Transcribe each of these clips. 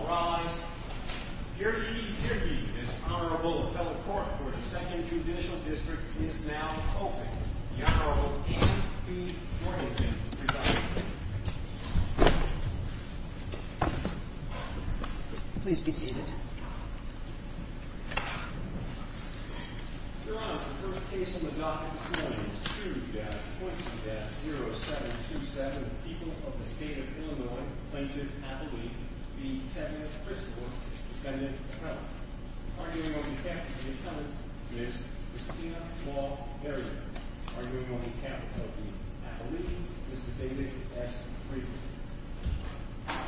rise. Your Honorable fellow court for the second judicial district is now hoping please be seated. Your Honor, the first case in the docket one.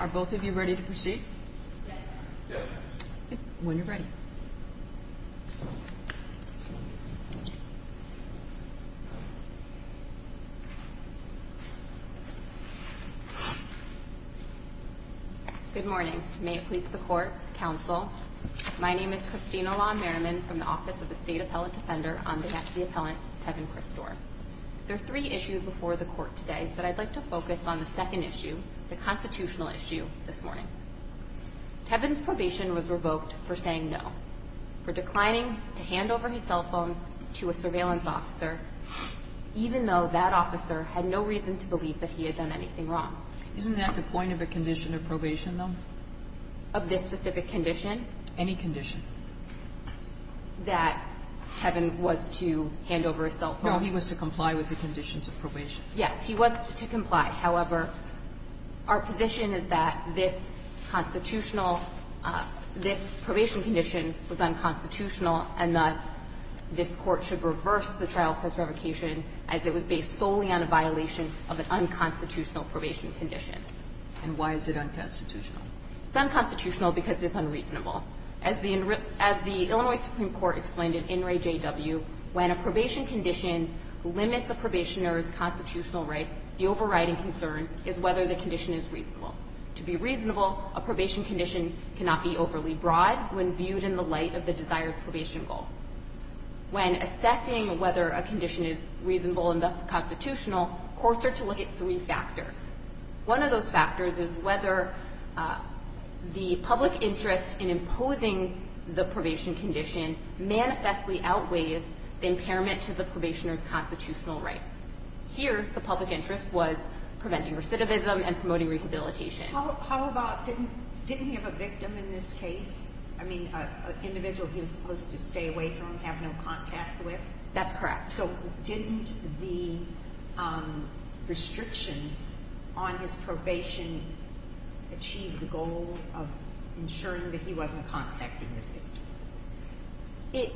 Are both of you ready to proceed? When you're ready. Good morning. May it please the court counsel. My name is Christina law Merriman from the Office of the State Appellant Defender on behalf of the appellant Kevin Christor. There are three issues before the court today, but I'd like to focus on the second issue, the constitutional issue this morning. Kevin's probation was revoked for saying no for declining to hand over his cell phone to a surveillance officer, even though that officer had no reason to believe that he had done anything wrong. Isn't that the point of a condition of probation, though? Of this specific condition? Any condition. That Kevin was to hand over his cell phone. No, he was to comply with the conditions of probation. Yes, he was to comply. However, our position is that this constitutional this probation condition was unconstitutional, and thus this court should reverse the trial for its revocation as it was based solely on a violation of an unconstitutional probation condition. And why is it unconstitutional? It's unconstitutional because it's unreasonable. As the Illinois Supreme Court explained in In Re J.W., when a probation condition limits a probationer's constitutional rights, the overriding concern is whether the condition is reasonable. To be reasonable, a probation condition cannot be overly broad when viewed in the light of the desired probation goal. When assessing whether a condition is reasonable and thus constitutional, courts are to look at three factors. One of those factors is whether the public interest in imposing the probation condition manifestly outweighs the impairment to the probationer's constitutional right. Here, the public interest was preventing recidivism and promoting rehabilitation. How about, didn't he have a victim in this case? I mean, an individual he was supposed to stay away from, have no contact with? That's correct. So didn't the restrictions on his probation achieve the goal of ensuring that he wasn't contacting this victim?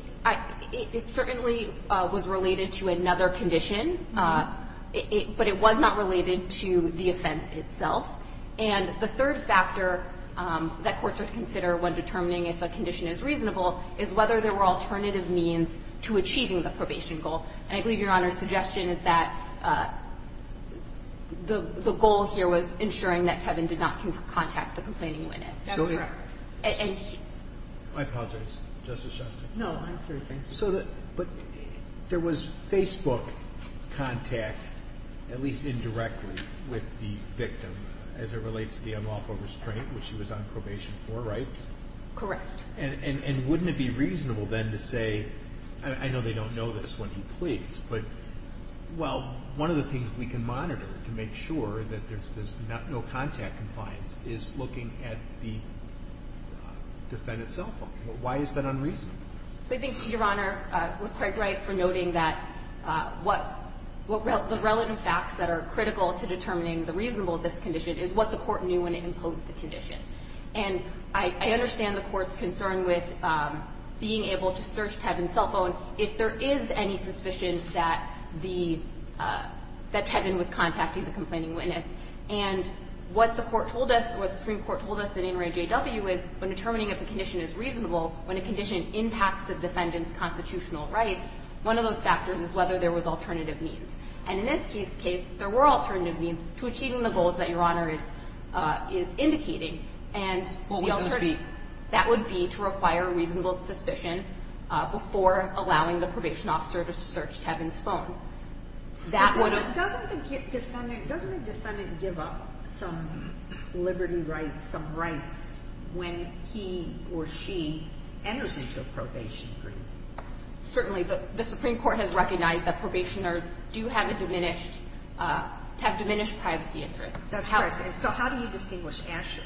It certainly was related to another condition, but it was not related to the offense itself. And the third factor that courts are to consider when determining if a condition is reasonable is whether there were alternative means to achieving the probation goal. And I believe Your Honor's suggestion is that the goal here was ensuring that Kevin did not contact the complaining witness. That's correct. I apologize, Justice Justin. No, I'm sorry. Thank you. So, but there was Facebook contact, at least indirectly, with the victim as it relates to the unlawful restraint which he was on probation for, right? Correct. And wouldn't it be reasonable then to say, I know they don't know this when he pleads, but, well, one of the things we can monitor to make sure that there's no contact compliance is looking at the defendant's cell phone. Why is that unreasonable? So I think, Your Honor, it was quite right for noting that what the relevant facts that are critical to determining the reasonable of this condition is what the court knew when it imposed the condition. And I understand the court's concern with being able to search Kevin's cell phone if there is any suspicion that the, that Kevin was contacting the complaining witness. And what the court told us, what the Supreme Court told us in In Re J.W. is when determining if a condition is reasonable, when a condition impacts the defendant's constitutional rights, one of those factors is whether there was alternative means. And in this case, there were alternative means to achieving the goals that Your Honor is indicating. What would those be? That would be to require reasonable suspicion before allowing the probation officer to search Kevin's phone. Doesn't the defendant give up some liberty rights, some rights when he or she enters into a probation agreement? Certainly. The Supreme Court has recognized that probationers do have a diminished, have diminished privacy interests. That's correct. So how do you distinguish Asher?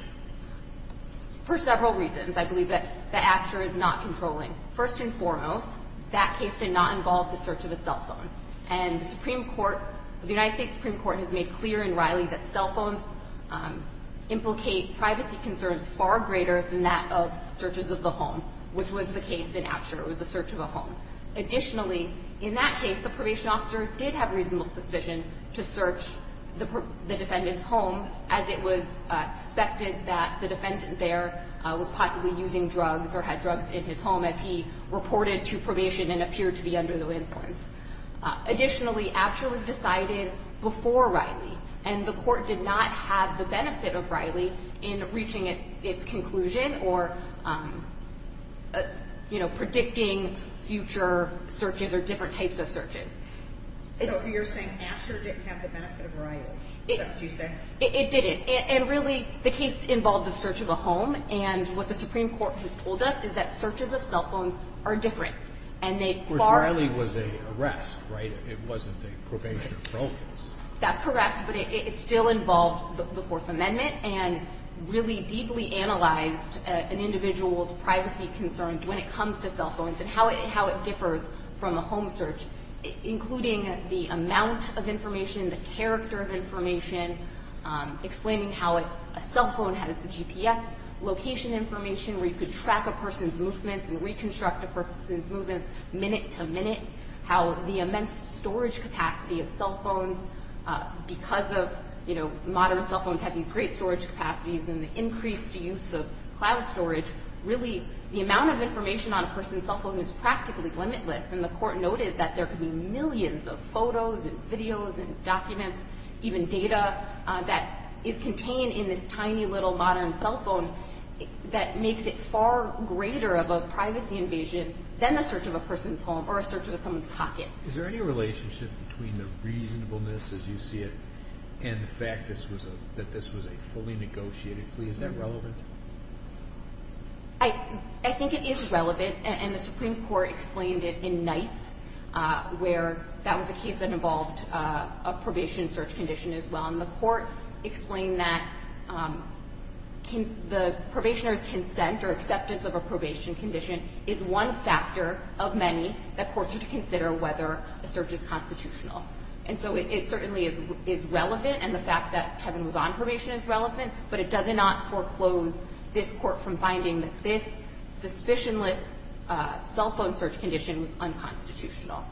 For several reasons. I believe that Asher is not controlling. First and foremost, that case did not involve the search of a cell phone. And the Supreme Court, the United States Supreme Court has made clear in Riley that cell phones implicate privacy concerns far greater than that of searches of the home, which was the case in Asher. It was the search of a home. Additionally, in that case, the probation officer did have reasonable suspicion to search the defendant's home as it was suspected that the defendant there was possibly using drugs or had drugs in his home as he reported to probation and appeared to be under no influence. Additionally, Asher was decided before Riley. And the court did not have the benefit of Riley in reaching its conclusion or predicting future searches or different types of searches. So you're saying Asher didn't have the benefit of Riley. Is that what you're saying? It didn't. And really, the case involved the search of a home. And what the Supreme Court has told us is that searches of cell phones are different. Of course, Riley was an arrest, right? It wasn't a probation or parole case. That's correct, but it still involved the Fourth Amendment and really deeply analyzed an individual's privacy concerns when it comes to cell phones and how it differs from a home search, including the amount of information, the character of information, explaining how a cell phone has the GPS location information where you could track a person's movements and reconstruct a person's movements minute to minute, how the immense storage capacity of cell phones because of, you know, modern cell phones have these great storage capacities and the increased use of cloud storage. Really, the amount of information on a person's cell phone is practically limitless. And the Court noted that there could be millions of photos and videos and documents, even data that is contained in this tiny little modern cell phone that makes it far greater of a privacy invasion than the search of a person's home or a search of someone's pocket. Is there any relationship between the reasonableness, as you see it, and the fact that this was a fully negotiated plea? Is that relevant? I think it is relevant, and the Supreme Court explained it in Knights, where that was a case that involved a probation search condition as well. And the Court explained that the probationer's consent or acceptance of a probation condition is one factor of many that courts need to consider whether a search is constitutional. And so it certainly is relevant, and the fact that Kevin was on probation is relevant, but it does not foreclose this Court from finding that this suspicionless cell phone search condition was unconstitutional.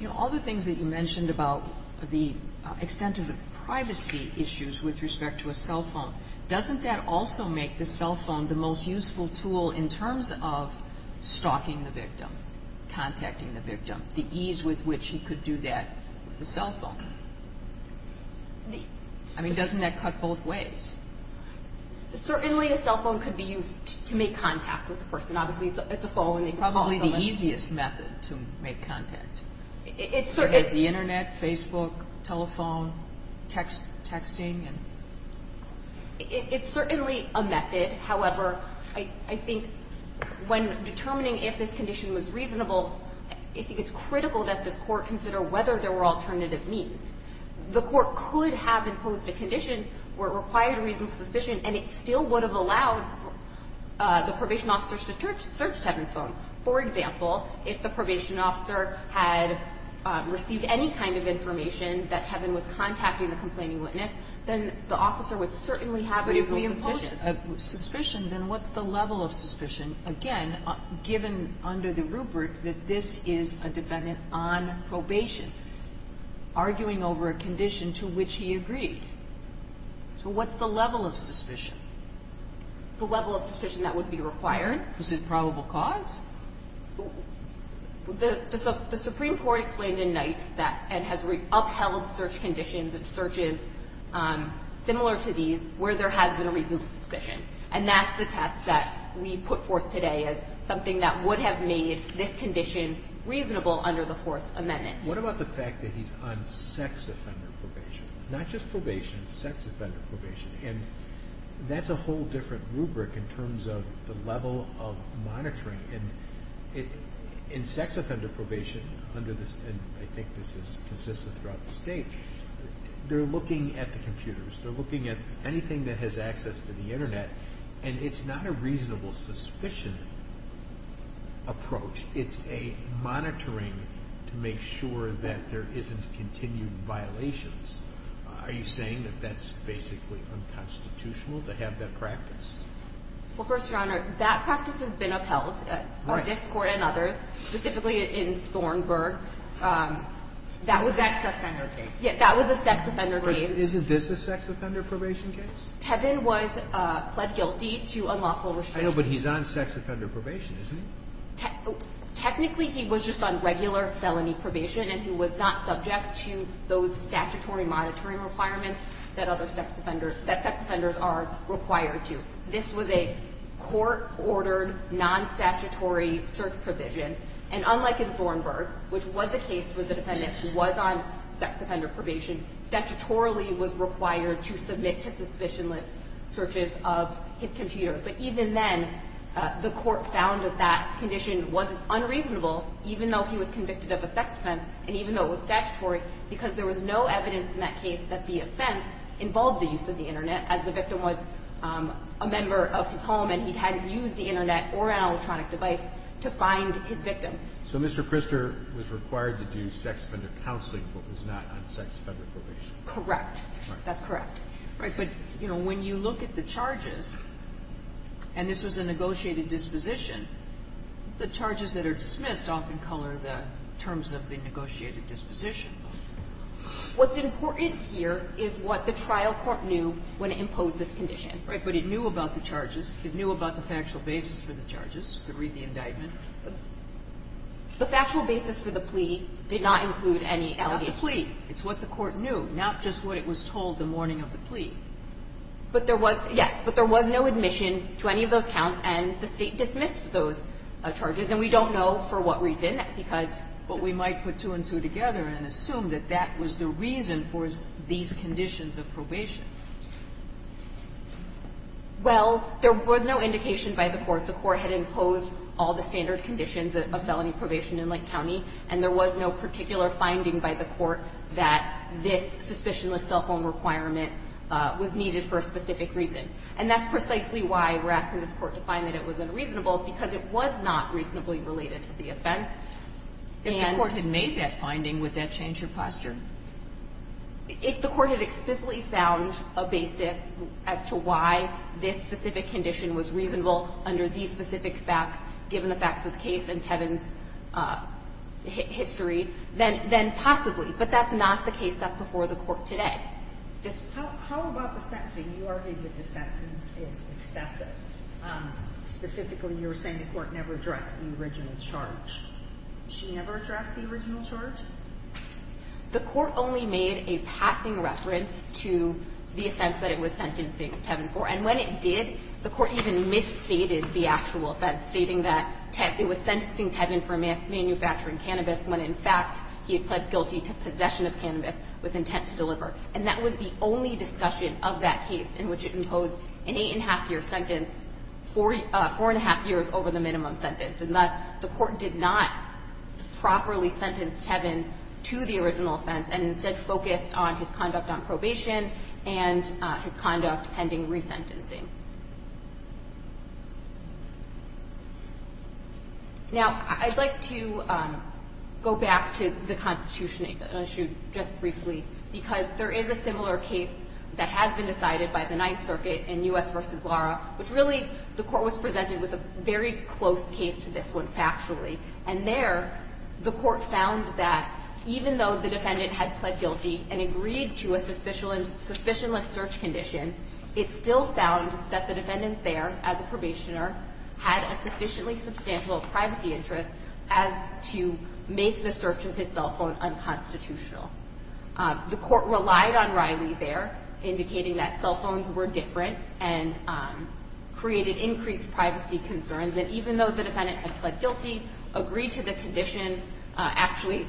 You know, all the things that you mentioned about the extent of the privacy issues with respect to a cell phone, doesn't that also make the cell phone the most useful tool and the ease with which he could do that with a cell phone? I mean, doesn't that cut both ways? Certainly, a cell phone could be used to make contact with a person. Obviously, it's a phone, and they could call someone. Probably the easiest method to make contact. It's the Internet, Facebook, telephone, texting. It's certainly a method. However, I think when determining if this condition was reasonable, I think it's critical that this Court consider whether there were alternative means. The Court could have imposed a condition where it required a reasonable suspicion, and it still would have allowed the probation officer to search Kevin's phone. For example, if the probation officer had received any kind of information that Kevin was contacting the complaining witness, then the officer would certainly have a reasonable suspicion. But if we impose a suspicion, then what's the level of suspicion? Again, given under the rubric that this is a defendant on probation, arguing over a condition to which he agreed. So what's the level of suspicion? The level of suspicion that would be required. Is it probable cause? The Supreme Court explained in Knights that it has upheld search conditions and searches similar to these where there has been a reasonable suspicion. And that's the test that we put forth today as something that would have made this condition reasonable under the Fourth Amendment. What about the fact that he's on sex offender probation? Not just probation, sex offender probation. And that's a whole different rubric in terms of the level of monitoring. In sex offender probation, and I think this is consistent throughout the state, they're looking at the computers. They're looking at anything that has access to the Internet. And it's not a reasonable suspicion approach. It's a monitoring to make sure that there isn't continued violations. Are you saying that that's basically unconstitutional to have that practice? Well, First Your Honor, that practice has been upheld by this Court and others, specifically in Thornburg. The sex offender case. Yes, that was the sex offender case. Isn't this the sex offender probation case? Tevin was pled guilty to unlawful restraint. I know, but he's on sex offender probation, isn't he? Technically, he was just on regular felony probation and he was not subject to those statutory monitoring requirements that sex offenders are required to. This was a court-ordered, non-statutory search provision. And unlike in Thornburg, which was a case where the defendant was on sex offender probation, statutorily was required to submit to suspicionless searches of his computer. But even then, the Court found that that condition was unreasonable even though he was convicted of a sex offence and even though it was statutory because there was no evidence in that case that the offence involved the use of the Internet as the victim was a member of his home So Mr. Krister was required to do sex offender counseling but was not on sex offender probation? Correct. That's correct. Right, but, you know, when you look at the charges and this was a negotiated disposition, the charges that are dismissed often color the terms of the negotiated disposition. What's important here is what the trial court knew when it imposed this condition. Right, but it knew about the charges. It knew about the factual basis for the charges. Read the indictment. The factual basis for the plea did not include any allegations. Not the plea. It's what the court knew, not just what it was told the morning of the plea. But there was, yes, but there was no admission to any of those counts and the State dismissed those charges and we don't know for what reason because But we might put two and two together and assume that that was the reason for these conditions of probation. Well, there was no indication by the Court. The Court had imposed all the standard conditions of felony probation in Lake County and there was no particular finding by the Court that this suspicionless cell phone requirement was needed for a specific reason. And that's precisely why we're asking this Court to find that it was unreasonable because it was not reasonably related to the offense. If the Court had made that finding, would that change your posture? If the Court had explicitly found a basis as to why this specific condition was reasonable under these specific facts, given the facts of the case and Tevin's history, then possibly. But that's not the case before the Court today. How about the sentencing? You argued that the sentencing is excessive. Specifically, you were saying the Court never addressed the original charge. She never addressed the original charge? The Court only made a passing reference to the offense that it was sentencing Tevin for. And when it did, the Court even misstated the actual offense, stating that it was sentencing Tevin for manufacturing cannabis when, in fact, he had pled guilty to possession of cannabis with intent to deliver. And that was the only discussion of that case in which it imposed an eight-and-a-half-year sentence, four-and-a-half years over the minimum sentence. And thus, the Court did not properly sentence Tevin to the original offense, and instead focused on his conduct on probation and his conduct pending resentencing. Now, I'd like to go back to the Constitution issue just briefly, because there is a similar case that has been decided by the Ninth Circuit in U.S. v. Lara, which really, the Court was presented with a very close case to this one, factually. And there, the Court found that even though the defendant had pled guilty and agreed to a suspicionless search condition, it still found that the defendant there, as a probationer, had a sufficiently substantial privacy interest as to make the search of his cell phone unconstitutional. The Court relied on Riley there, indicating that cell phones were different and created increased privacy concerns, that even though the defendant had pled guilty, agreed to the condition, had actually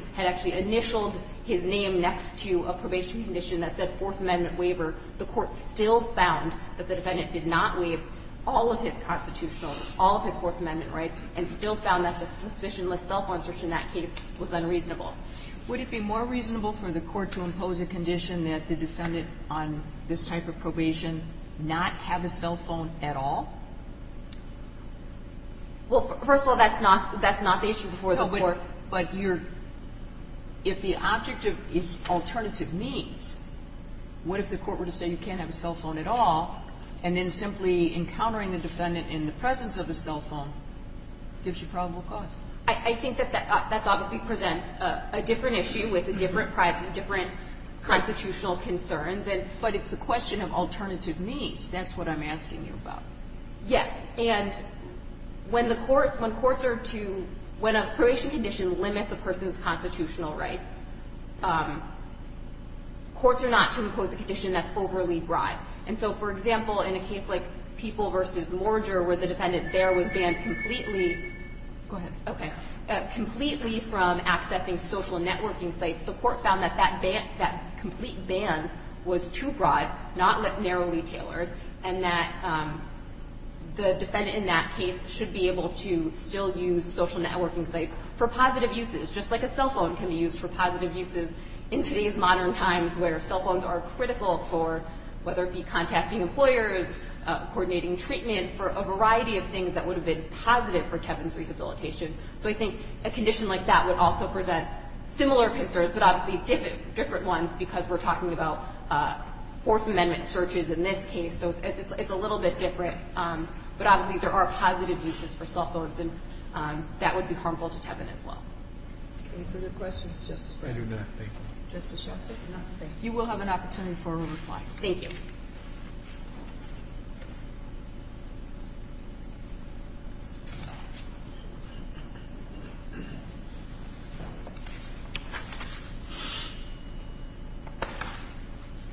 initialed his name next to a probation condition that said Fourth Amendment waiver, the Court still found that the defendant did not waive all of his constitutional, all of his Fourth Amendment rights, and still found that the suspicionless cell phone search in that case was unreasonable. Would it be more reasonable for the Court to impose a condition that the defendant on this type of probation not have a cell phone at all? Well, first of all, that's not the issue before the Court. But you're, if the object is alternative means, what if the Court were to say you can't have a cell phone at all, and then simply encountering the defendant in the presence of a cell phone gives you probable cause? I think that that obviously presents a different issue with a different privacy, different constitutional concerns. But it's a question of alternative means. That's what I'm asking you about. Yes, and when the Court, when courts are to, when a probation condition limits a person's constitutional rights, courts are not to impose a condition that's overly broad. And so, for example, in a case like People v. Morger where the defendant there was banned completely, go ahead, okay, completely from accessing social networking sites, the Court found that that ban, that complete ban was too broad, not narrowly tailored, and that the defendant in that case should be able to still use social networking sites for positive uses, just like a cell phone can be used for positive uses in today's modern times where cell phones are critical for whether it be contacting employers, coordinating treatment for a variety of things that would have been positive for Kevin's rehabilitation. So I think a condition like that would also present similar concerns, but obviously different ones because we're talking about Fourth Amendment searches in this case, so it's a little bit different, but obviously there are positive uses for cell phones and that would be harmful to Kevin as well. Any further questions, Justice Breyer? I do not, thank you. You will have an opportunity for a reply. Thank you.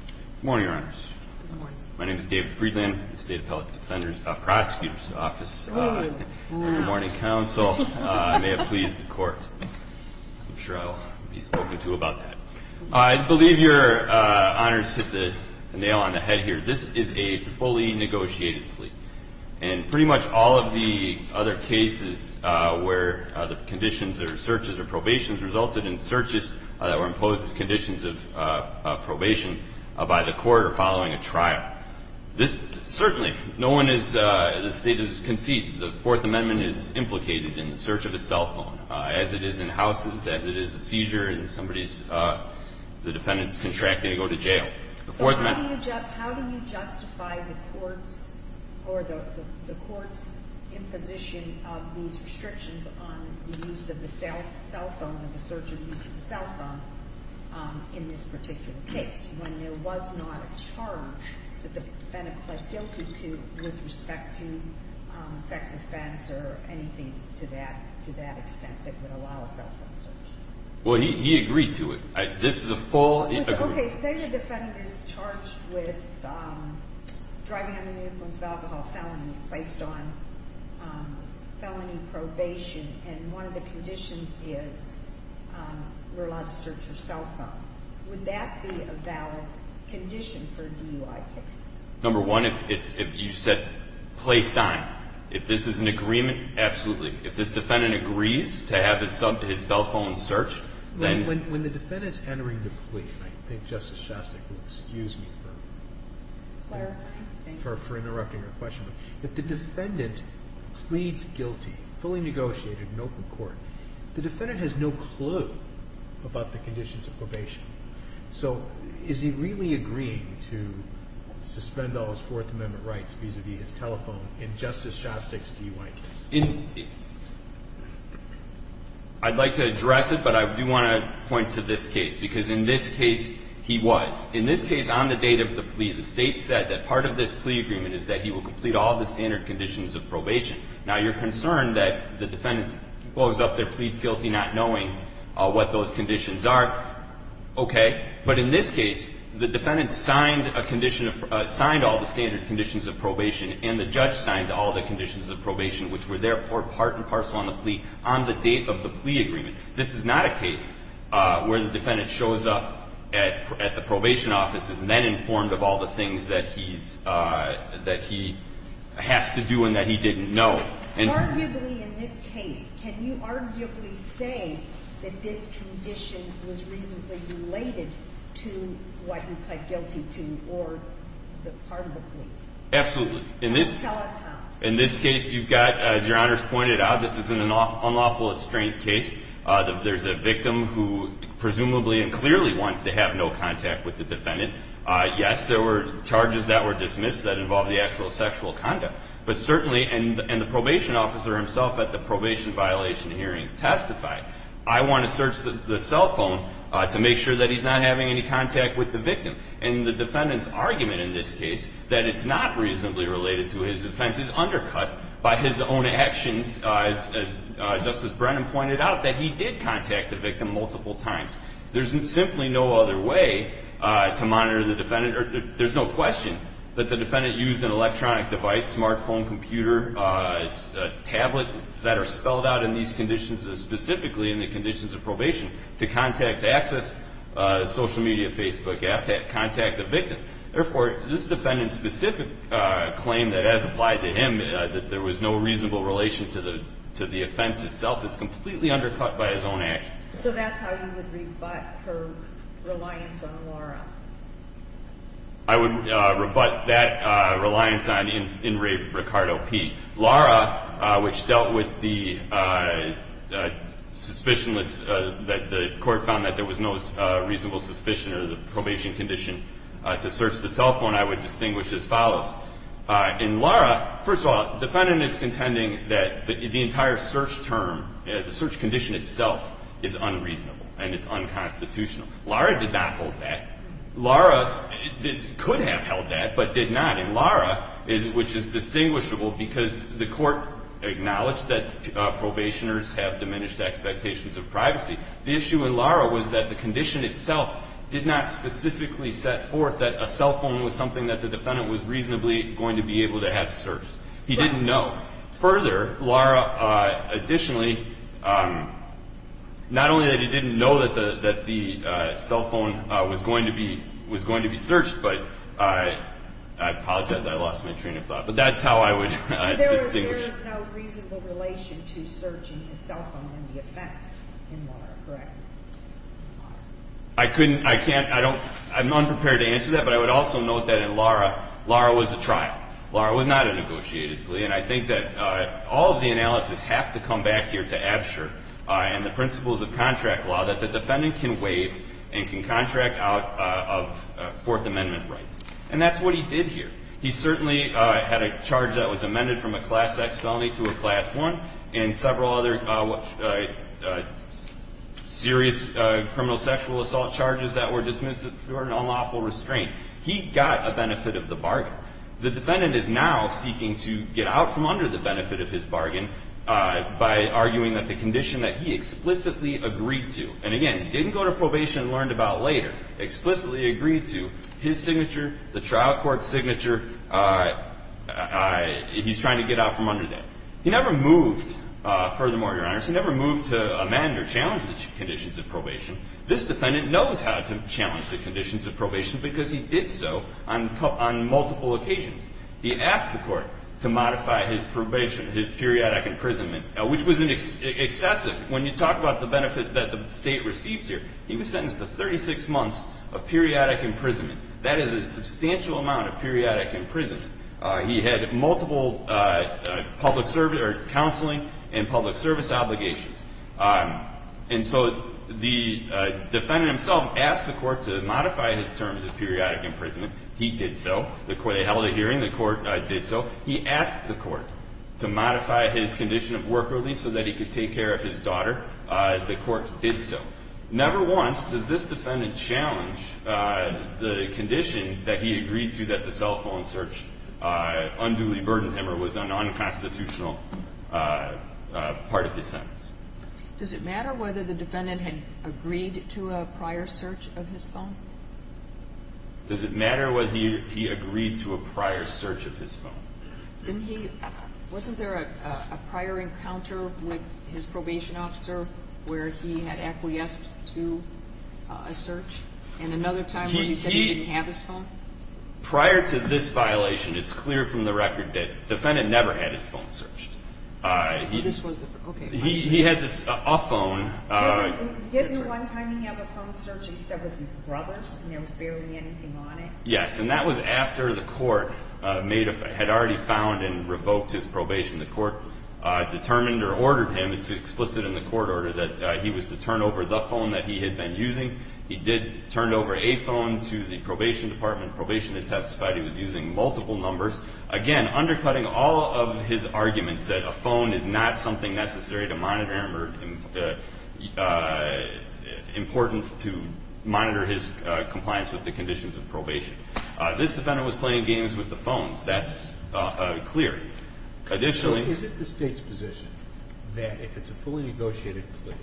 Good morning, Your Honors. My name is Dave Friedland, State Appellate Defender's, Prosecutor's Office. Good morning, Counsel. I may have pleased the Court. I'm sure I'll be spoken to about that. I believe Your Honors hit the nail on the head here. This is a fully negotiated plea, and pretty much all of the other cases where the conditions or searches or probations resulted in searches that were imposed as conditions of probation by the Court or following a trial. This, certainly, no one is, the State concedes that the Fourth Amendment is implicated in the search of a cell phone as it is in houses, as it is a seizure, the defendant's contracting to go to jail. So how do you justify the Court's imposition of these restrictions on the use of the cell phone or the search of the use of the cell phone in this particular case when there was not a charge that the defendant pled guilty to with respect to sex offense or anything to that extent that would allow a cell phone search? He agreed to it. Say the defendant is charged with driving under the influence of alcohol, felonies placed on felony probation, and one of the conditions is you're allowed to search your cell phone. Would that be a valid condition for DUI case? Number one, if you said placed on, if this is an agreement, absolutely. If this defendant agrees to have his cell phone searched, then... When the defendant's entering the plea, and I think Justice Shostak will excuse me for interrupting your question, if the defendant pleads guilty, fully negotiated in open court, the defendant has no clue about the conditions of probation. So, is he really agreeing to suspend all his Fourth Amendment rights vis-a-vis his telephone in Justice Shostak's DUI case? I'd like to address it, but I do want to point to this case, because in this case he was. In this case, on the date of the plea, the state said that part of this plea agreement is that he will complete all the standard conditions of probation. Now, you're concerned that the defendant blows up their pleads guilty not knowing what those conditions are. Okay. But in this case, the defendant signed a condition, signed all the standard conditions of probation, and the judge signed all the conditions of probation which were therefore part and parcel on the plea on the date of the plea agreement. This is not a case where the defendant shows up at the probation office and is then informed of all the things that he's, that he has to do and that he didn't know. Arguably, in this case, can you arguably say that this condition was reasonably related to what he pled guilty to or part of the plea? Absolutely. In this case, you've got, as Your Honor's pointed out, this is an unlawful restraint case. There's a victim who presumably and clearly wants to have no contact with the defendant. Yes, there were charges that were dismissed that involved the actual conduct. But certainly, and the probation officer himself at the probation violation hearing testified, I want to search the cell phone to make sure that he's not having any contact with the victim. And the defendant's argument in this case that it's not reasonably related to his offense is undercut by his own actions as Justice Brennan pointed out, that he did contact the victim multiple times. There's simply no other way to monitor the defendant. There's no question that the defendant used an electronic device, smartphone, computer, tablet, that are spelled out in these conditions, specifically in the conditions of probation, to contact, to access social media, Facebook, contact the victim. Therefore, this defendant's specific claim that has applied to him that there was no reasonable relation to the offense itself is completely undercut by his own actions. So that's how you would rebut her reliance on Laura? I would rebut that reliance in Ricardo P. Laura, which dealt with the suspicion that the court found that there was no reasonable suspicion of the probation condition to search the cell phone, I would distinguish as follows. In Laura, first of all, the defendant is contending that the entire search term, the search condition itself, is unreasonable and it's unconstitutional. Laura did not hold that. Laura could have held that but did not. In Laura, which is distinguishable because the court acknowledged that probationers have diminished expectations of privacy, the issue in Laura was that the condition itself did not specifically set forth that a cell phone was something that the defendant was reasonably going to be able to have searched. He didn't know. Further, Laura, additionally, not only that he didn't know that the cell phone was going to be searched but I apologize, I lost my train of thought but that's how I would distinguish. There is no reasonable relation to searching a cell phone in the offense in Laura, correct? I couldn't, I can't, I'm unprepared to answer that but I would also note that in Laura, Laura was a trial. Laura was not a negotiated plea and I think that all of the analysis has to come back here to Absher and the principles of contract law that the defendant can waive and can contract out of Fourth Amendment rights. And that's what he did here. He certainly had a charge that was amended from a Class X felony to a Class I and several other serious criminal sexual assault charges that were dismissed through an unlawful restraint. He got a benefit of the bargain. The defendant is now seeking to get out from under the benefit of his bargain by arguing that the condition that he explicitly agreed to and again, didn't go to probation and learned about later, explicitly agreed to his signature, the trial court's signature, he's trying to get out from under that. He never moved, furthermore Your Honor, he never moved to amend or challenge the conditions of probation. This defendant knows how to challenge the conditions of probation because he did so on multiple occasions. He asked the court to modify his probation, his periodic imprisonment which was excessive. When you talk about the benefit that the state received here, he was sentenced to 36 months of periodic imprisonment. That is a substantial amount of periodic imprisonment. He had multiple public counseling and public service obligations. And so the defendant himself asked the court to modify his terms of periodic imprisonment. He did so. They held a hearing. The court did so. He asked the court to modify his condition of work release so that he could take care of his daughter. The court did so. Never once does this defendant challenge the condition that he agreed to that the cell phone search unduly burdened him or was an unconstitutional part of his sentence. Does it matter whether the defendant had agreed to a prior search of his phone? Does it matter whether he agreed to a prior search of his phone? Wasn't there a prior encounter with his probation officer where he had acquiesced to a search? And another time where he said he didn't have his phone? Prior to this violation it's clear from the record that the defendant never had his phone searched. He had a phone Didn't one time he have a phone search and he said it was his brother's and there was barely anything on it? Yes, and that was after the court had already found and revoked his probation. The court determined or ordered him, it's explicit in the court order, that he was to turn over the phone that he had been using. He did turn over a phone to the probation department. Probation has testified he was using multiple numbers. Again, undercutting all of his arguments that a phone is not something necessary to monitor important to monitor his compliance with the conditions of probation. This defendant was playing games with the phones. That's clear. So is it the state's position that if it's a fully negotiated plea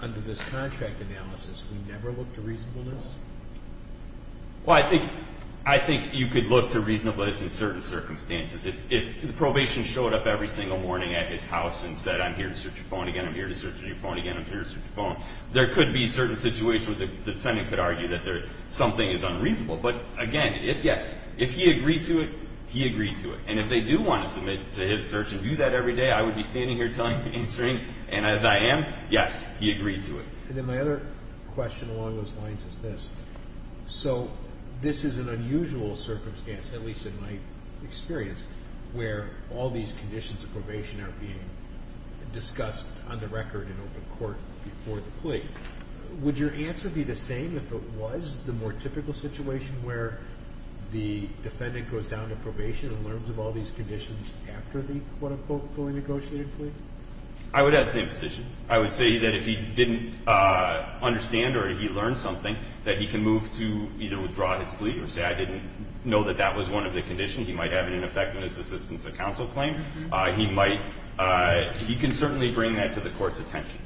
under this contract analysis we never look to reasonableness? Well, I think you could look to reasonableness in certain circumstances. If the probation showed up every single morning at his house and said I'm here to search your phone again, I'm here to search your phone again there could be certain situations where the defendant could argue that something is unreasonable. But again if yes, if he agreed to it he agreed to it. And if they do want to submit to his search and do that every day I would be standing here answering and as I am, yes, he agreed to it. And then my other question along those lines is this. So this is an unusual circumstance at least in my experience where all these conditions of probation are being discussed on the record in open court before the plea. Would your answer be the same if it was the more typical situation where the defendant goes down to probation and learns of all these conditions after the quote unquote fully negotiated plea? I would have the same position. I would say that if he didn't understand or he learned something that he can move to either withdraw his plea or say I didn't know that that was one of the conditions. He might have it in effect in his assistance of counsel claim. He might he can certainly bring that to the court's attention.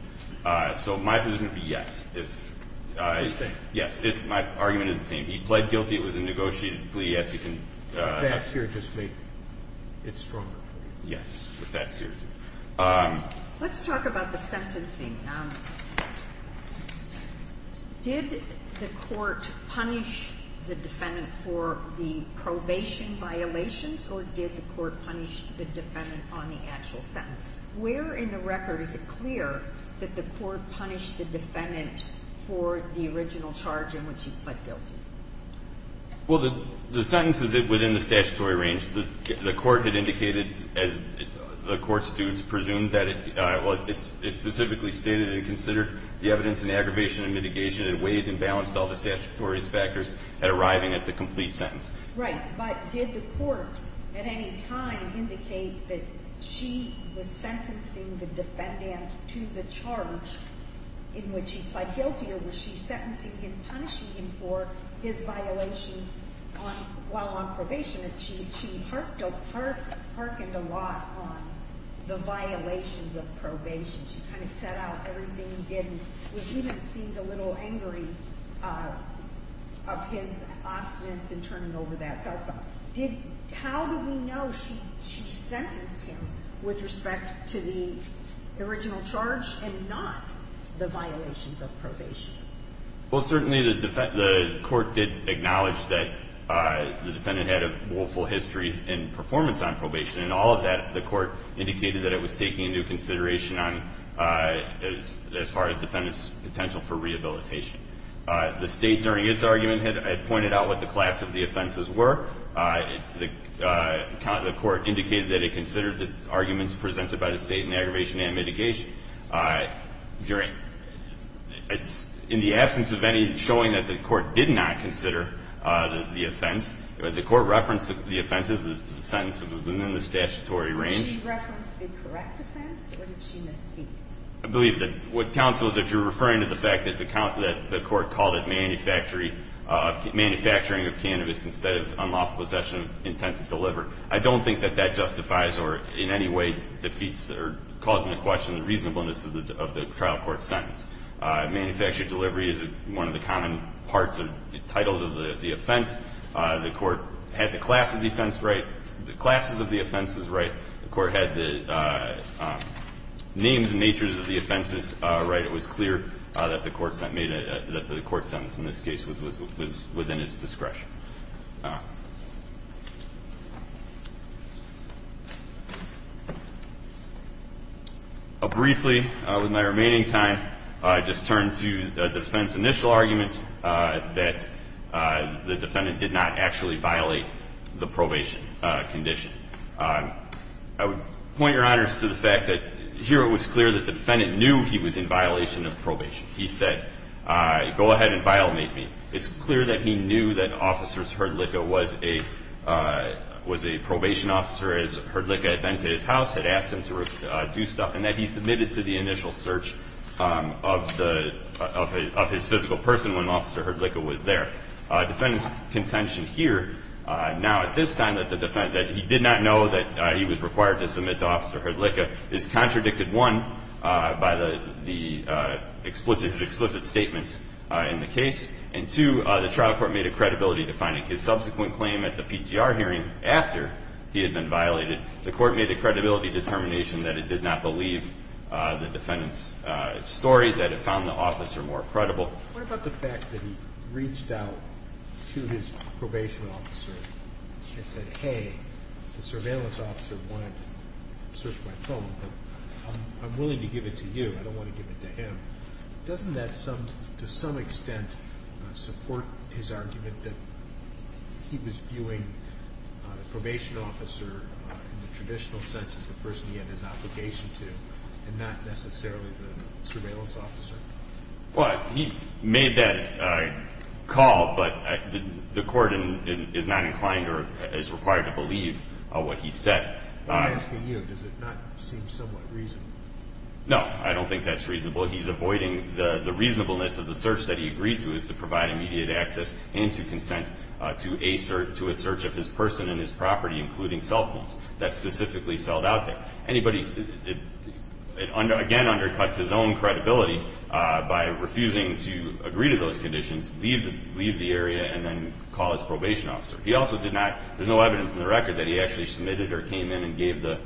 So my position would be yes. It's the same? Yes. My argument is the same. He pled guilty, it was a negotiated plea, yes, he can. With facts here, just make it stronger. Yes, with facts here. Let's talk about the sentencing. Did the court punish the defendant for the probation violations or did the court punish the defendant on the actual sentence? Where in the record is it clear that the court punished the defendant for the original charge in which he pled guilty? Well, the sentence is within the statutory range. The court had indicated as the court students presumed that it specifically stated and considered the evidence in aggravation and mitigation and weighed and balanced all the statutory factors at arriving at the complete sentence. Right, but did the court at any time indicate that she was sentencing the defendant to the charge in which he pled guilty or was she sentencing him, punishing him for his violations while on probation achieved? She hearkened a lot on the violations of probation. She kind of set out everything he did and even seemed a little angry of his obstinance in turning over that cell phone. How do we know she sentenced him with respect to the original charge and not the violations of probation? Well, certainly the court did acknowledge that the defendant had a history and performance on probation and all of that the court indicated that it was taking into consideration on as far as the potential for rehabilitation. The state during its argument had pointed out what the class of the offenses were. The court indicated that it considered the arguments presented by the state in aggravation and mitigation. It's in the absence of any showing that the court did not consider the offense, the court referenced the offense as the sentence within the statutory range. Did she reference the correct offense or did she misspeak? I believe that what counsel, if you're referring to the fact that the court called it manufacturing of cannabis instead of unlawful possession of intent to deliver, I don't think that that justifies or in any way defeats or calls into question the reasonableness of the trial court's sentence. Manufactured delivery is one of the common parts of titles of the offense. The court had the class of the offense right, the classes of the offenses right. The court had the names and natures of the offenses right. It was clear that the court sentence in this case was within its discretion. Briefly, with my remaining time, I just turn to the defendant's initial argument that the defendant did not actually violate the probation condition. I would point your honors to the fact that here it was clear that the defendant knew he was in violation of probation. He said, go ahead and violate me. It's clear that he knew that Officer Hrdlicka was a probation officer as Hrdlicka had been to his house, had asked him to do stuff and that he submitted to the initial search of his physical person when Officer Hrdlicka was there. Defendant's contention here now at this time that he did not know that he was required to submit to Officer Hrdlicka is contradicted, one, by the explicit statements in the case and two, the trial court made a credibility defining his subsequent claim at the PCR hearing after he had been violated. The court made a credibility determination that it did not believe the defendant's story, that it found the officer more credible. What about the fact that he reached out to his probation officer and said, hey, the surveillance officer wanted to search my phone, but I'm willing to give it to you, I don't want to give it to him. Doesn't that to some extent support his argument that he was viewing the probation officer in the traditional sense as the person he had his obligation to and not necessarily the surveillance officer? Well, he made that call, but the court is not inclined or is required to believe what he said. I'm asking you, does it not seem somewhat reasonable? No, I don't think that's reasonable. He's avoiding the reasonableness of the search that he agreed to, is to provide immediate access and to consent to a search of his person and his property, including cell phones that specifically selled out there. It, again, undercuts his own credibility by refusing to agree to those conditions, leave the area, and then call his probation officer. There's no evidence in the record that he actually submitted or came in and gave the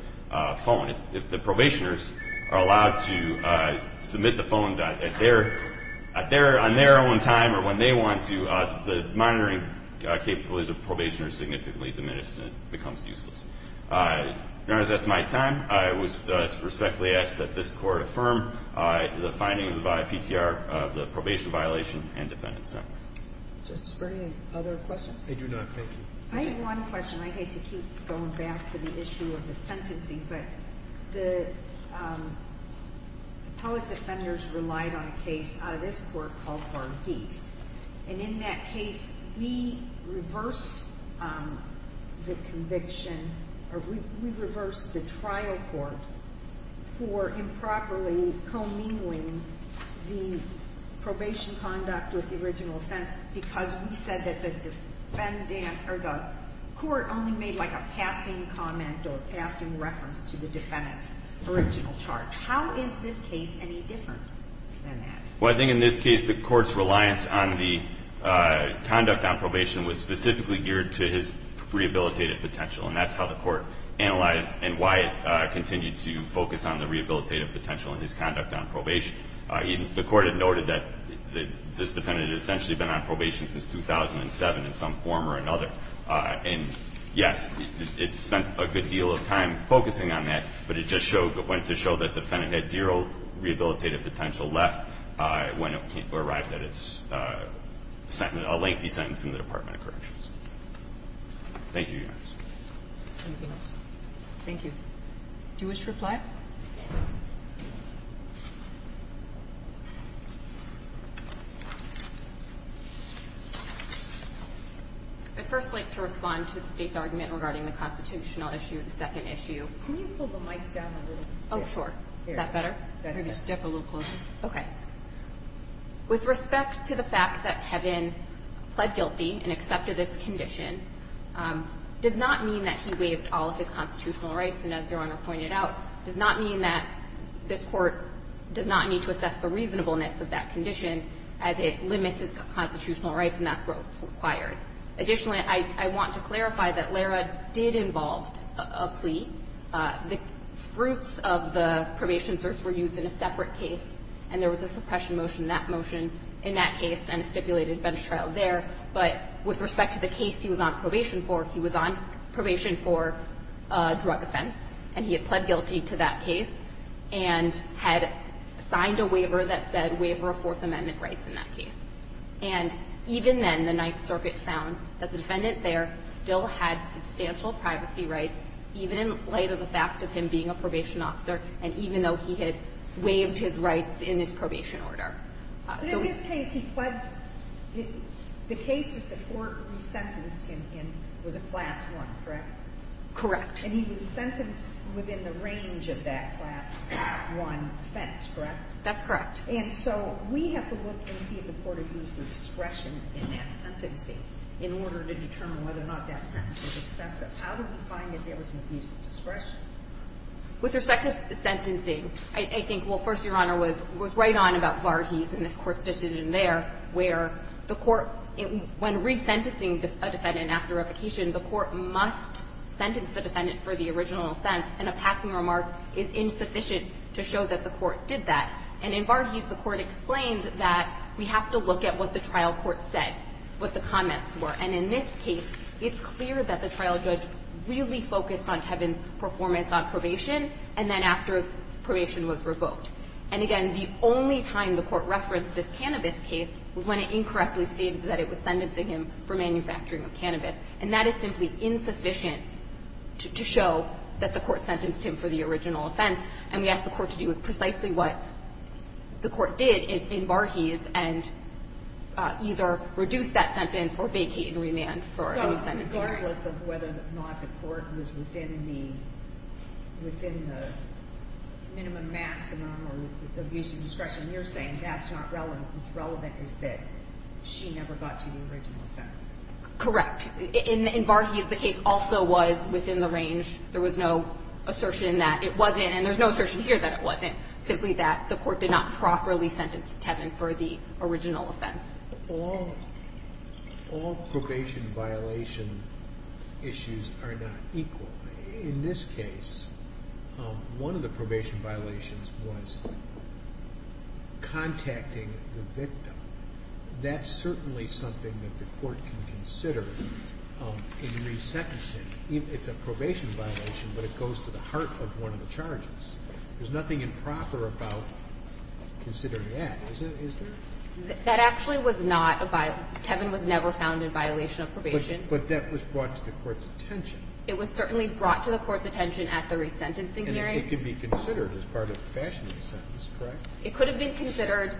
phone. If the probationers are allowed to submit the phones on their own time or when they want to, the monitoring capabilities of probationers are significantly diminished and it becomes useless. Now that that's my time, affirm the finding of the PTR of the probation violation and defendant's sentence. Judge Springer, any other questions? I do not, thank you. I have one question. I hate to keep going back to the issue of the sentencing, but the appellate defenders relied on a case out of this court called Varghese and in that case we reversed the conviction or we reversed the trial court for improperly co-meaning the probation conduct with the original offense because we said that the court only made a passing comment or reference to the defendant's original charge. How is this case any different than that? I think in this case the court's reliance on the conduct on probation was specifically geared to his rehabilitative potential and that's how the court analyzed and why it continued to focus on the rehabilitative potential in his conduct on probation. The court had noted that this defendant had essentially been on probation since 2007 in some form or another and yes, it spent a good deal of time focusing on that, but it just went to show that the defendant had zero rehabilitative potential left when it arrived at its lengthy sentence Thank you, Your Honor. Thank you. Do you wish to reply? I'd first like to respond to the State's argument regarding the constitutional issue, the second issue. Can you pull the mic down a little bit? Oh, sure. Is that better? Maybe step a little closer. With respect to the fact that Kevin pled guilty and accepted this condition does not mean that he waived pointed out, does not mean that this court does not need to be held accountable and does not need to assess the reasonableness of that condition as it limits his constitutional rights and that's what was required. Additionally, I want to clarify that Lara did involve a plea. The fruits of the probation search were used in a separate case and there was a suppression motion in that case and a stipulated bench trial there but with respect to the case he was on probation for, he was on probation for a drug offense and he had pled guilty to that case and had signed a waiver that said waiver of Fourth Amendment rights in that case and even then the Ninth Circuit found that the defendant there still had substantial privacy rights even in light of the fact of him being a probation officer and even though he had waived his rights in his probation order. But in this case he pled, the case that the court resentenced him in was a Class I, correct? Correct. And he was sentenced within the range of that Class I offense, correct? That's correct. And so we have to look and see if the court abused the discretion in that sentencing in order to determine whether or not that sentence was excessive. How do we find that there was an abuse of discretion? With respect to sentencing, I think well, first, Your Honor, was right on about Varghese and this Court's decision there where the Court, when resentencing a defendant after revocation, the Court must sentence the defendant for the original offense and a passing remark is insufficient to show that the Court did that and in Varghese the Court explained that we have to look at what the trial court said, what the comments were and in this case, it's clear that the trial judge really focused on Tevin's performance on probation and then after probation was revoked and again, the only time the Court referenced this cannabis case was when it incorrectly stated that it was sentencing him for manufacturing of cannabis and that is simply insufficient to show that the Court sentenced him for the original offense and we asked the Court to do precisely what the Court did in Varghese and either reduce that sentence or vacate and remand for a new sentencing. So regardless of whether or not the Court was within the minimum maximum or the abuse of discretion, you're saying that's not relevant. What's relevant is that she never got to the original offense. Correct. In Varghese the case also was within the range. There was no assertion that it wasn't and there's no assertion here that it wasn't. Simply that the Court did not properly sentence Tevin for the original offense. All probation violation issues are not equal. In this case, one of the probation violations was contacting the victim. That's certainly something that the Court can consider in resentencing. It's a probation violation but it goes to the heart of one of the charges. There's nothing improper about considering that, is there? That actually was not a violation. Tevin was never found in violation of probation. But that was brought to the Court's attention. It was certainly brought to the Court's attention at the resentencing hearing. And it could be considered as part of the fashion of the sentence, correct? It could have been considered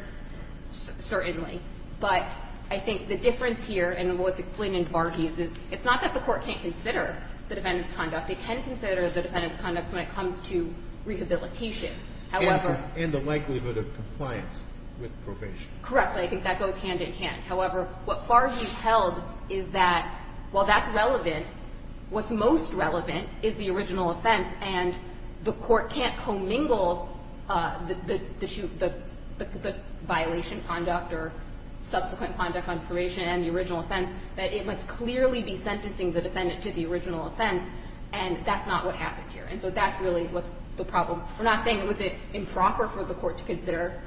certainly. But I think the difference here and what's explained in Varghese is it's not that the Court can't consider the defendant's conduct. It can consider the defendant's conduct when it comes to rehabilitation. And the likelihood of compliance with probation. Correct. I think that goes hand-in-hand. However, what Varghese held is that while that's relevant, what's most relevant is the original offense and the Court can't commingle the violation conduct or subsequent conduct on probation and the original offense, that it must clearly be sentencing the defendant to the original offense, and that's not what happened here. And so that's really what's the problem. We're not saying was it improper for the Court to consider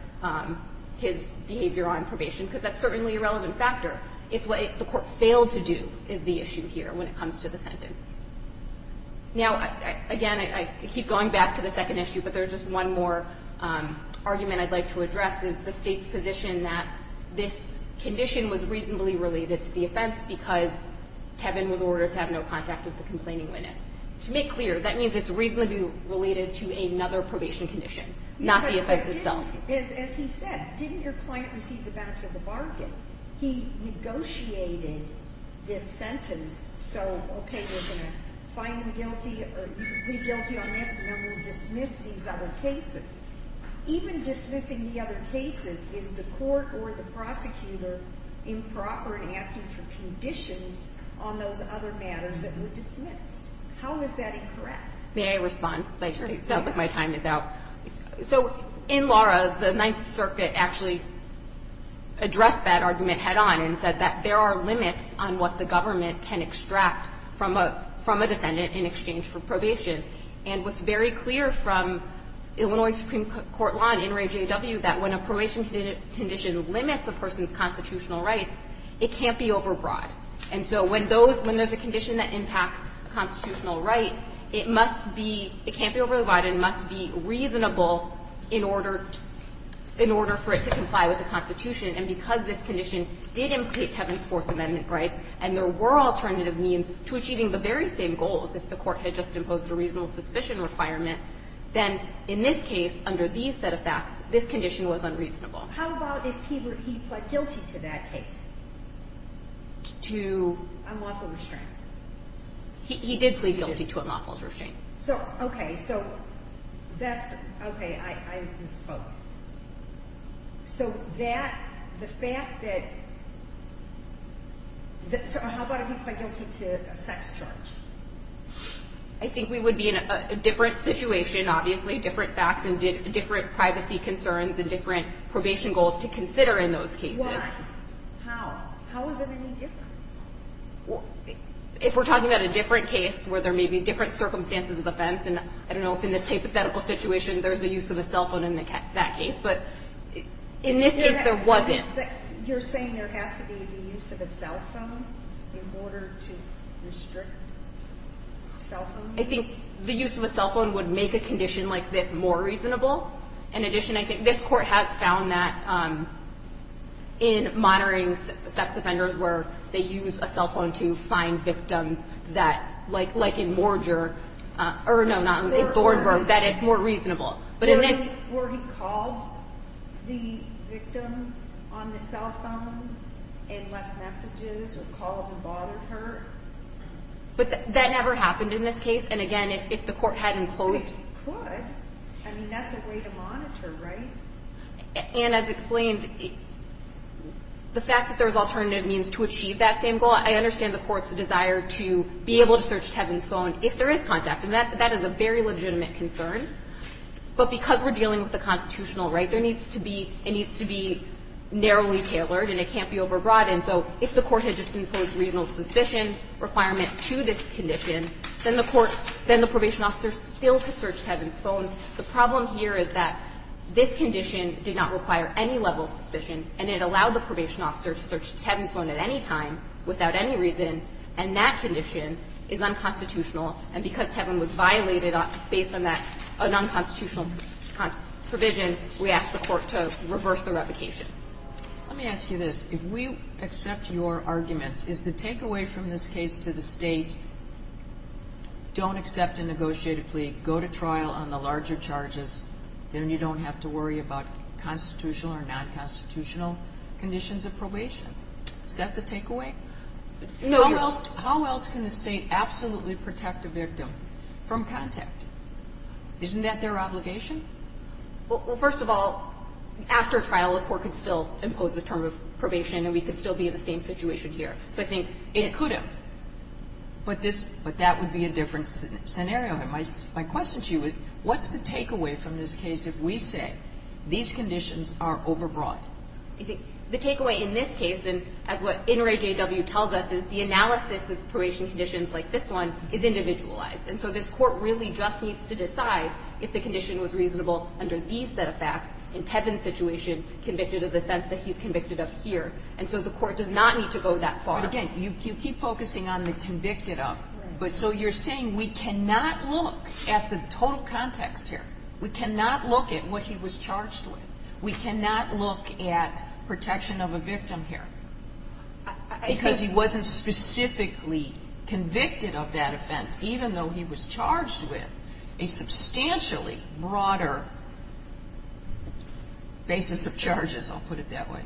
his behavior on probation, because that's certainly a relevant factor. It's what the Court failed to do is the issue here when it comes to the sentence. Now, again, I keep going back to the second issue, but there's just one more argument I'd like to address. The State's position that this condition was reasonably related to the offense because Tevin was ordered to have no contact with the complaining witness. To make clear, that means it's reasonably related to another probation condition, not the offense itself. As he said, didn't your client receive the benefit of the bargain? He negotiated this sentence, so okay, we're going to find him guilty on this, and then we'll dismiss these other cases. Even dismissing the other cases is the Court or the prosecutor improper in asking for conditions on those other matters that were dismissed. How is that incorrect? It sounds like my time is out. So, in Laura, the Ninth Circuit actually addressed that argument head-on and said that there are limits on what the government can extract from a defendant in exchange for probation. And what's very clear from Illinois Supreme Court law and NRAJW, that when a probation condition limits a person's constitutional rights, it can't be overbroad. And so when those when there's a condition that impacts a constitutional right, it must be it can't be overbroad and must be reasonable in order for it to comply with the Constitution. And because this condition did implicate Tevin's Fourth Amendment rights and there were alternative means to achieving the very same goals if the Court had just imposed a reasonable suspicion requirement then, in this case, under these set of facts, this condition was unreasonable. How about if he pled guilty to that case? To? Unlawful restraint. He did plead guilty to unlawful restraint. So, okay, so that's, okay, I misspoke. So that the fact that So how about if he pled guilty to a sex charge? I think we would be in a different situation obviously, different facts and different privacy concerns and different probation goals to consider in those cases. Why? How? How is it any different? If we're talking about a different case where there may be different circumstances of offense and I don't know if in this hypothetical situation there's the use of a cell phone in that case but in this case there wasn't. You're saying there has to be the use of a cell phone in order to restrict cell phone use? I think the use of a cell phone would make a condition like this more reasonable. In addition, I think this Court has found that in monitoring sex offenders where they use a cell phone to find victims that, like in Morger or, no, not in Thornburg, that it's more reasonable. Were he called the victim on the cell phone and left messages or called and bothered her? That never happened in this case and again, if the Court hadn't closed it could. I mean, that's a way to monitor, right? And as explained the fact that there's alternative means to achieve that same goal, I understand the Court's desire to be able to search Tevin's phone if there is contact and that is a very legitimate concern but because we're dealing with a constitutional right, it needs to be narrowly tailored and it can't be over-broadened, so if the Court had just imposed reasonable suspicion requirement to this condition, then the probation officer still could search Tevin's phone. The problem here is that this condition did not require any level of suspicion and it allowed the probation officer to search Tevin's phone at any time without any reason and that condition is unconstitutional and because Tevin was a non-constitutional provision we asked the Court to reverse the revocation. Let me ask you this if we accept your arguments is the takeaway from this case to the state don't accept a negotiated plea go to trial on the larger charges then you don't have to worry about constitutional or non-constitutional conditions of probation is that the takeaway? How else can the state absolutely protect a victim from contact? Isn't that their obligation? Well, first of all, after trial the Court could still impose the term of probation and we could still be in the same situation here so I think... It could have but that would be a different scenario. My question to you is what's the takeaway from this case if we say these conditions are over-broad? The takeaway in this case and as what Inouye J.W. tells us is the analysis of probation conditions like this one is individualized and so this Court really just needs to decide if the condition was reasonable under these set of facts in Tevin's situation, convicted of the offense that he's convicted of here and so the Court does not need to go that far Again, you keep focusing on the convicted of but so you're saying we cannot look at the total context here. We cannot look at what he was charged with We cannot look at protection of a victim here because he wasn't specifically convicted of that offense even though he was charged with a substantially broader basis of charges. I'll put it that way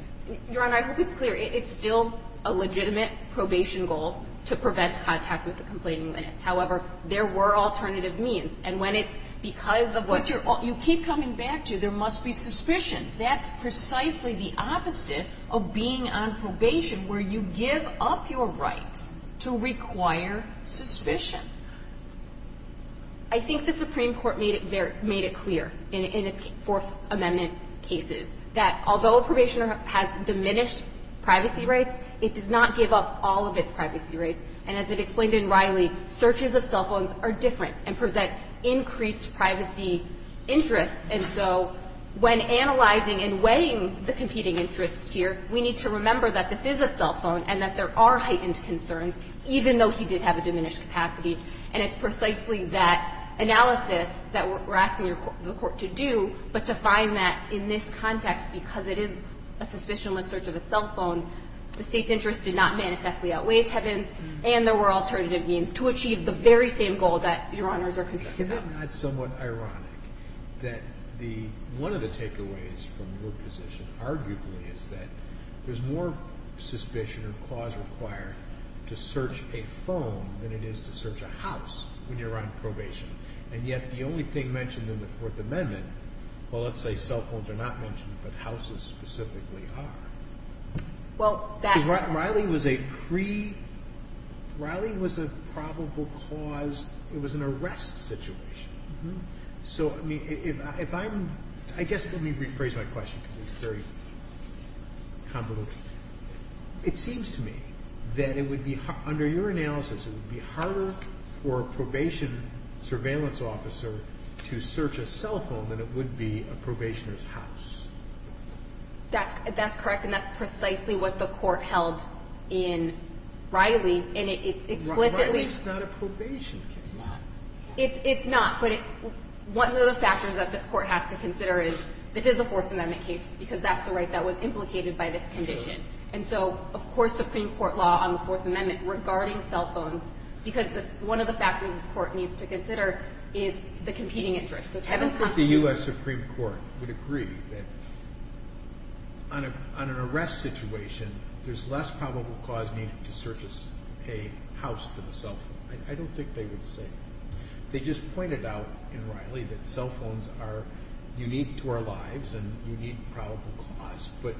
Your Honor, I hope it's clear it's still a legitimate probation goal to prevent contact with the complainant. However, there were alternative means and when it's because of what... You keep coming back to there must be suspicion. That's precisely the opposite of being on probation where you give up your right to require suspicion I think the Supreme Court made it clear in its Fourth Amendment cases that although a probationer has diminished privacy rights it does not give up all of its privacy rights and as it explained in Riley searches of cell phones are different and present increased privacy interests and so when analyzing and weighing the competing interests here, we need to find that there are heightened concerns even though he did have a diminished capacity and it's precisely that analysis that we're asking the Court to do but to find that in this context because it is a suspicionless search of a cell phone the State's interest did not manifestly outweigh Tevin's and there were alternative means to achieve the very same goal that Your Honors are considering. Isn't that somewhat ironic that one of the takeaways from your position arguably is that there's more suspicion or cause required to search a phone than it is to search a house when you're on probation and yet the only thing mentioned in the Fourth Amendment well let's say cell phones are not mentioned but houses specifically are Riley was a pre Riley was a probable cause, it was an arrest situation so if I'm I guess let me rephrase my question because it's very convoluted. It seems to me that it would be under your analysis it would be harder for a probation surveillance officer to search a cell phone than it would be a probationer's house. That's correct and that's precisely what the Court held in Riley and it explicitly Riley's not a probation case It's not but one of the factors that this Court has to consider is the competing interest. I don't think the U.S. Supreme Court would agree that on an arrest situation there's less probable cause needed to search a house than a cell phone I don't think they would say they just pointed out in Riley properties and I don't think they would agree that cell phones are unique to our lives but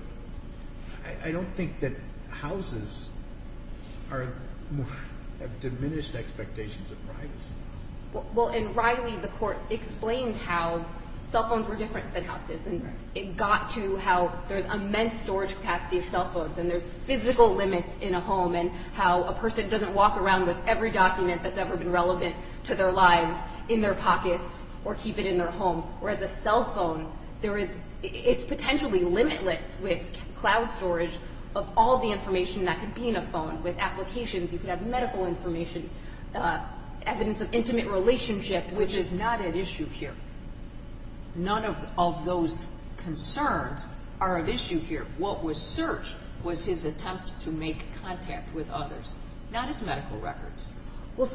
I don't think that houses have diminished expectations of privacy Well in Riley the Court explained how cell phones were different than houses and it got to how there's immense storage capacity of cell phones and there's physical limits in a home and how a person doesn't walk around with every document that's ever been relevant to their lives in their pockets or keep it in their home whereas a cell phone it's potentially limitless with cloud storage of all the information that could be in a phone with applications, you could have medical information evidence of intimate relationships Which is not at issue here None of those concerns are at issue here What was searched was his attempt to make contact with others not his medical records or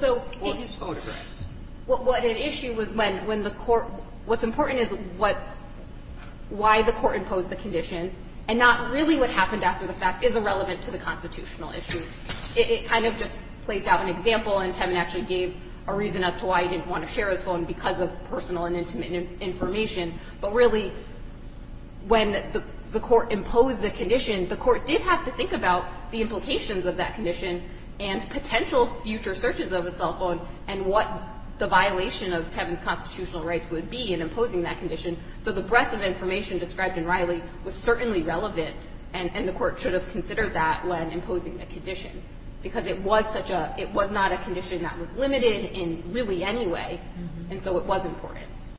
his photographs What at issue was when the court, what's important is why the court imposed the condition and not really what happened after the fact is irrelevant to the constitutional issue. It kind of just plays out an example and Tevin actually gave a reason as to why he didn't want to share his phone because of personal and intimate information but really when the court imposed the condition, the court did have to think about the implications of that condition and potential future searches of a cell phone and what the violation of Tevin's constitutional rights would be in imposing that condition so the breadth of information described in Riley was certainly relevant and the court should have considered that when imposing the condition because it was not a condition that was limited in really any way and so it was important.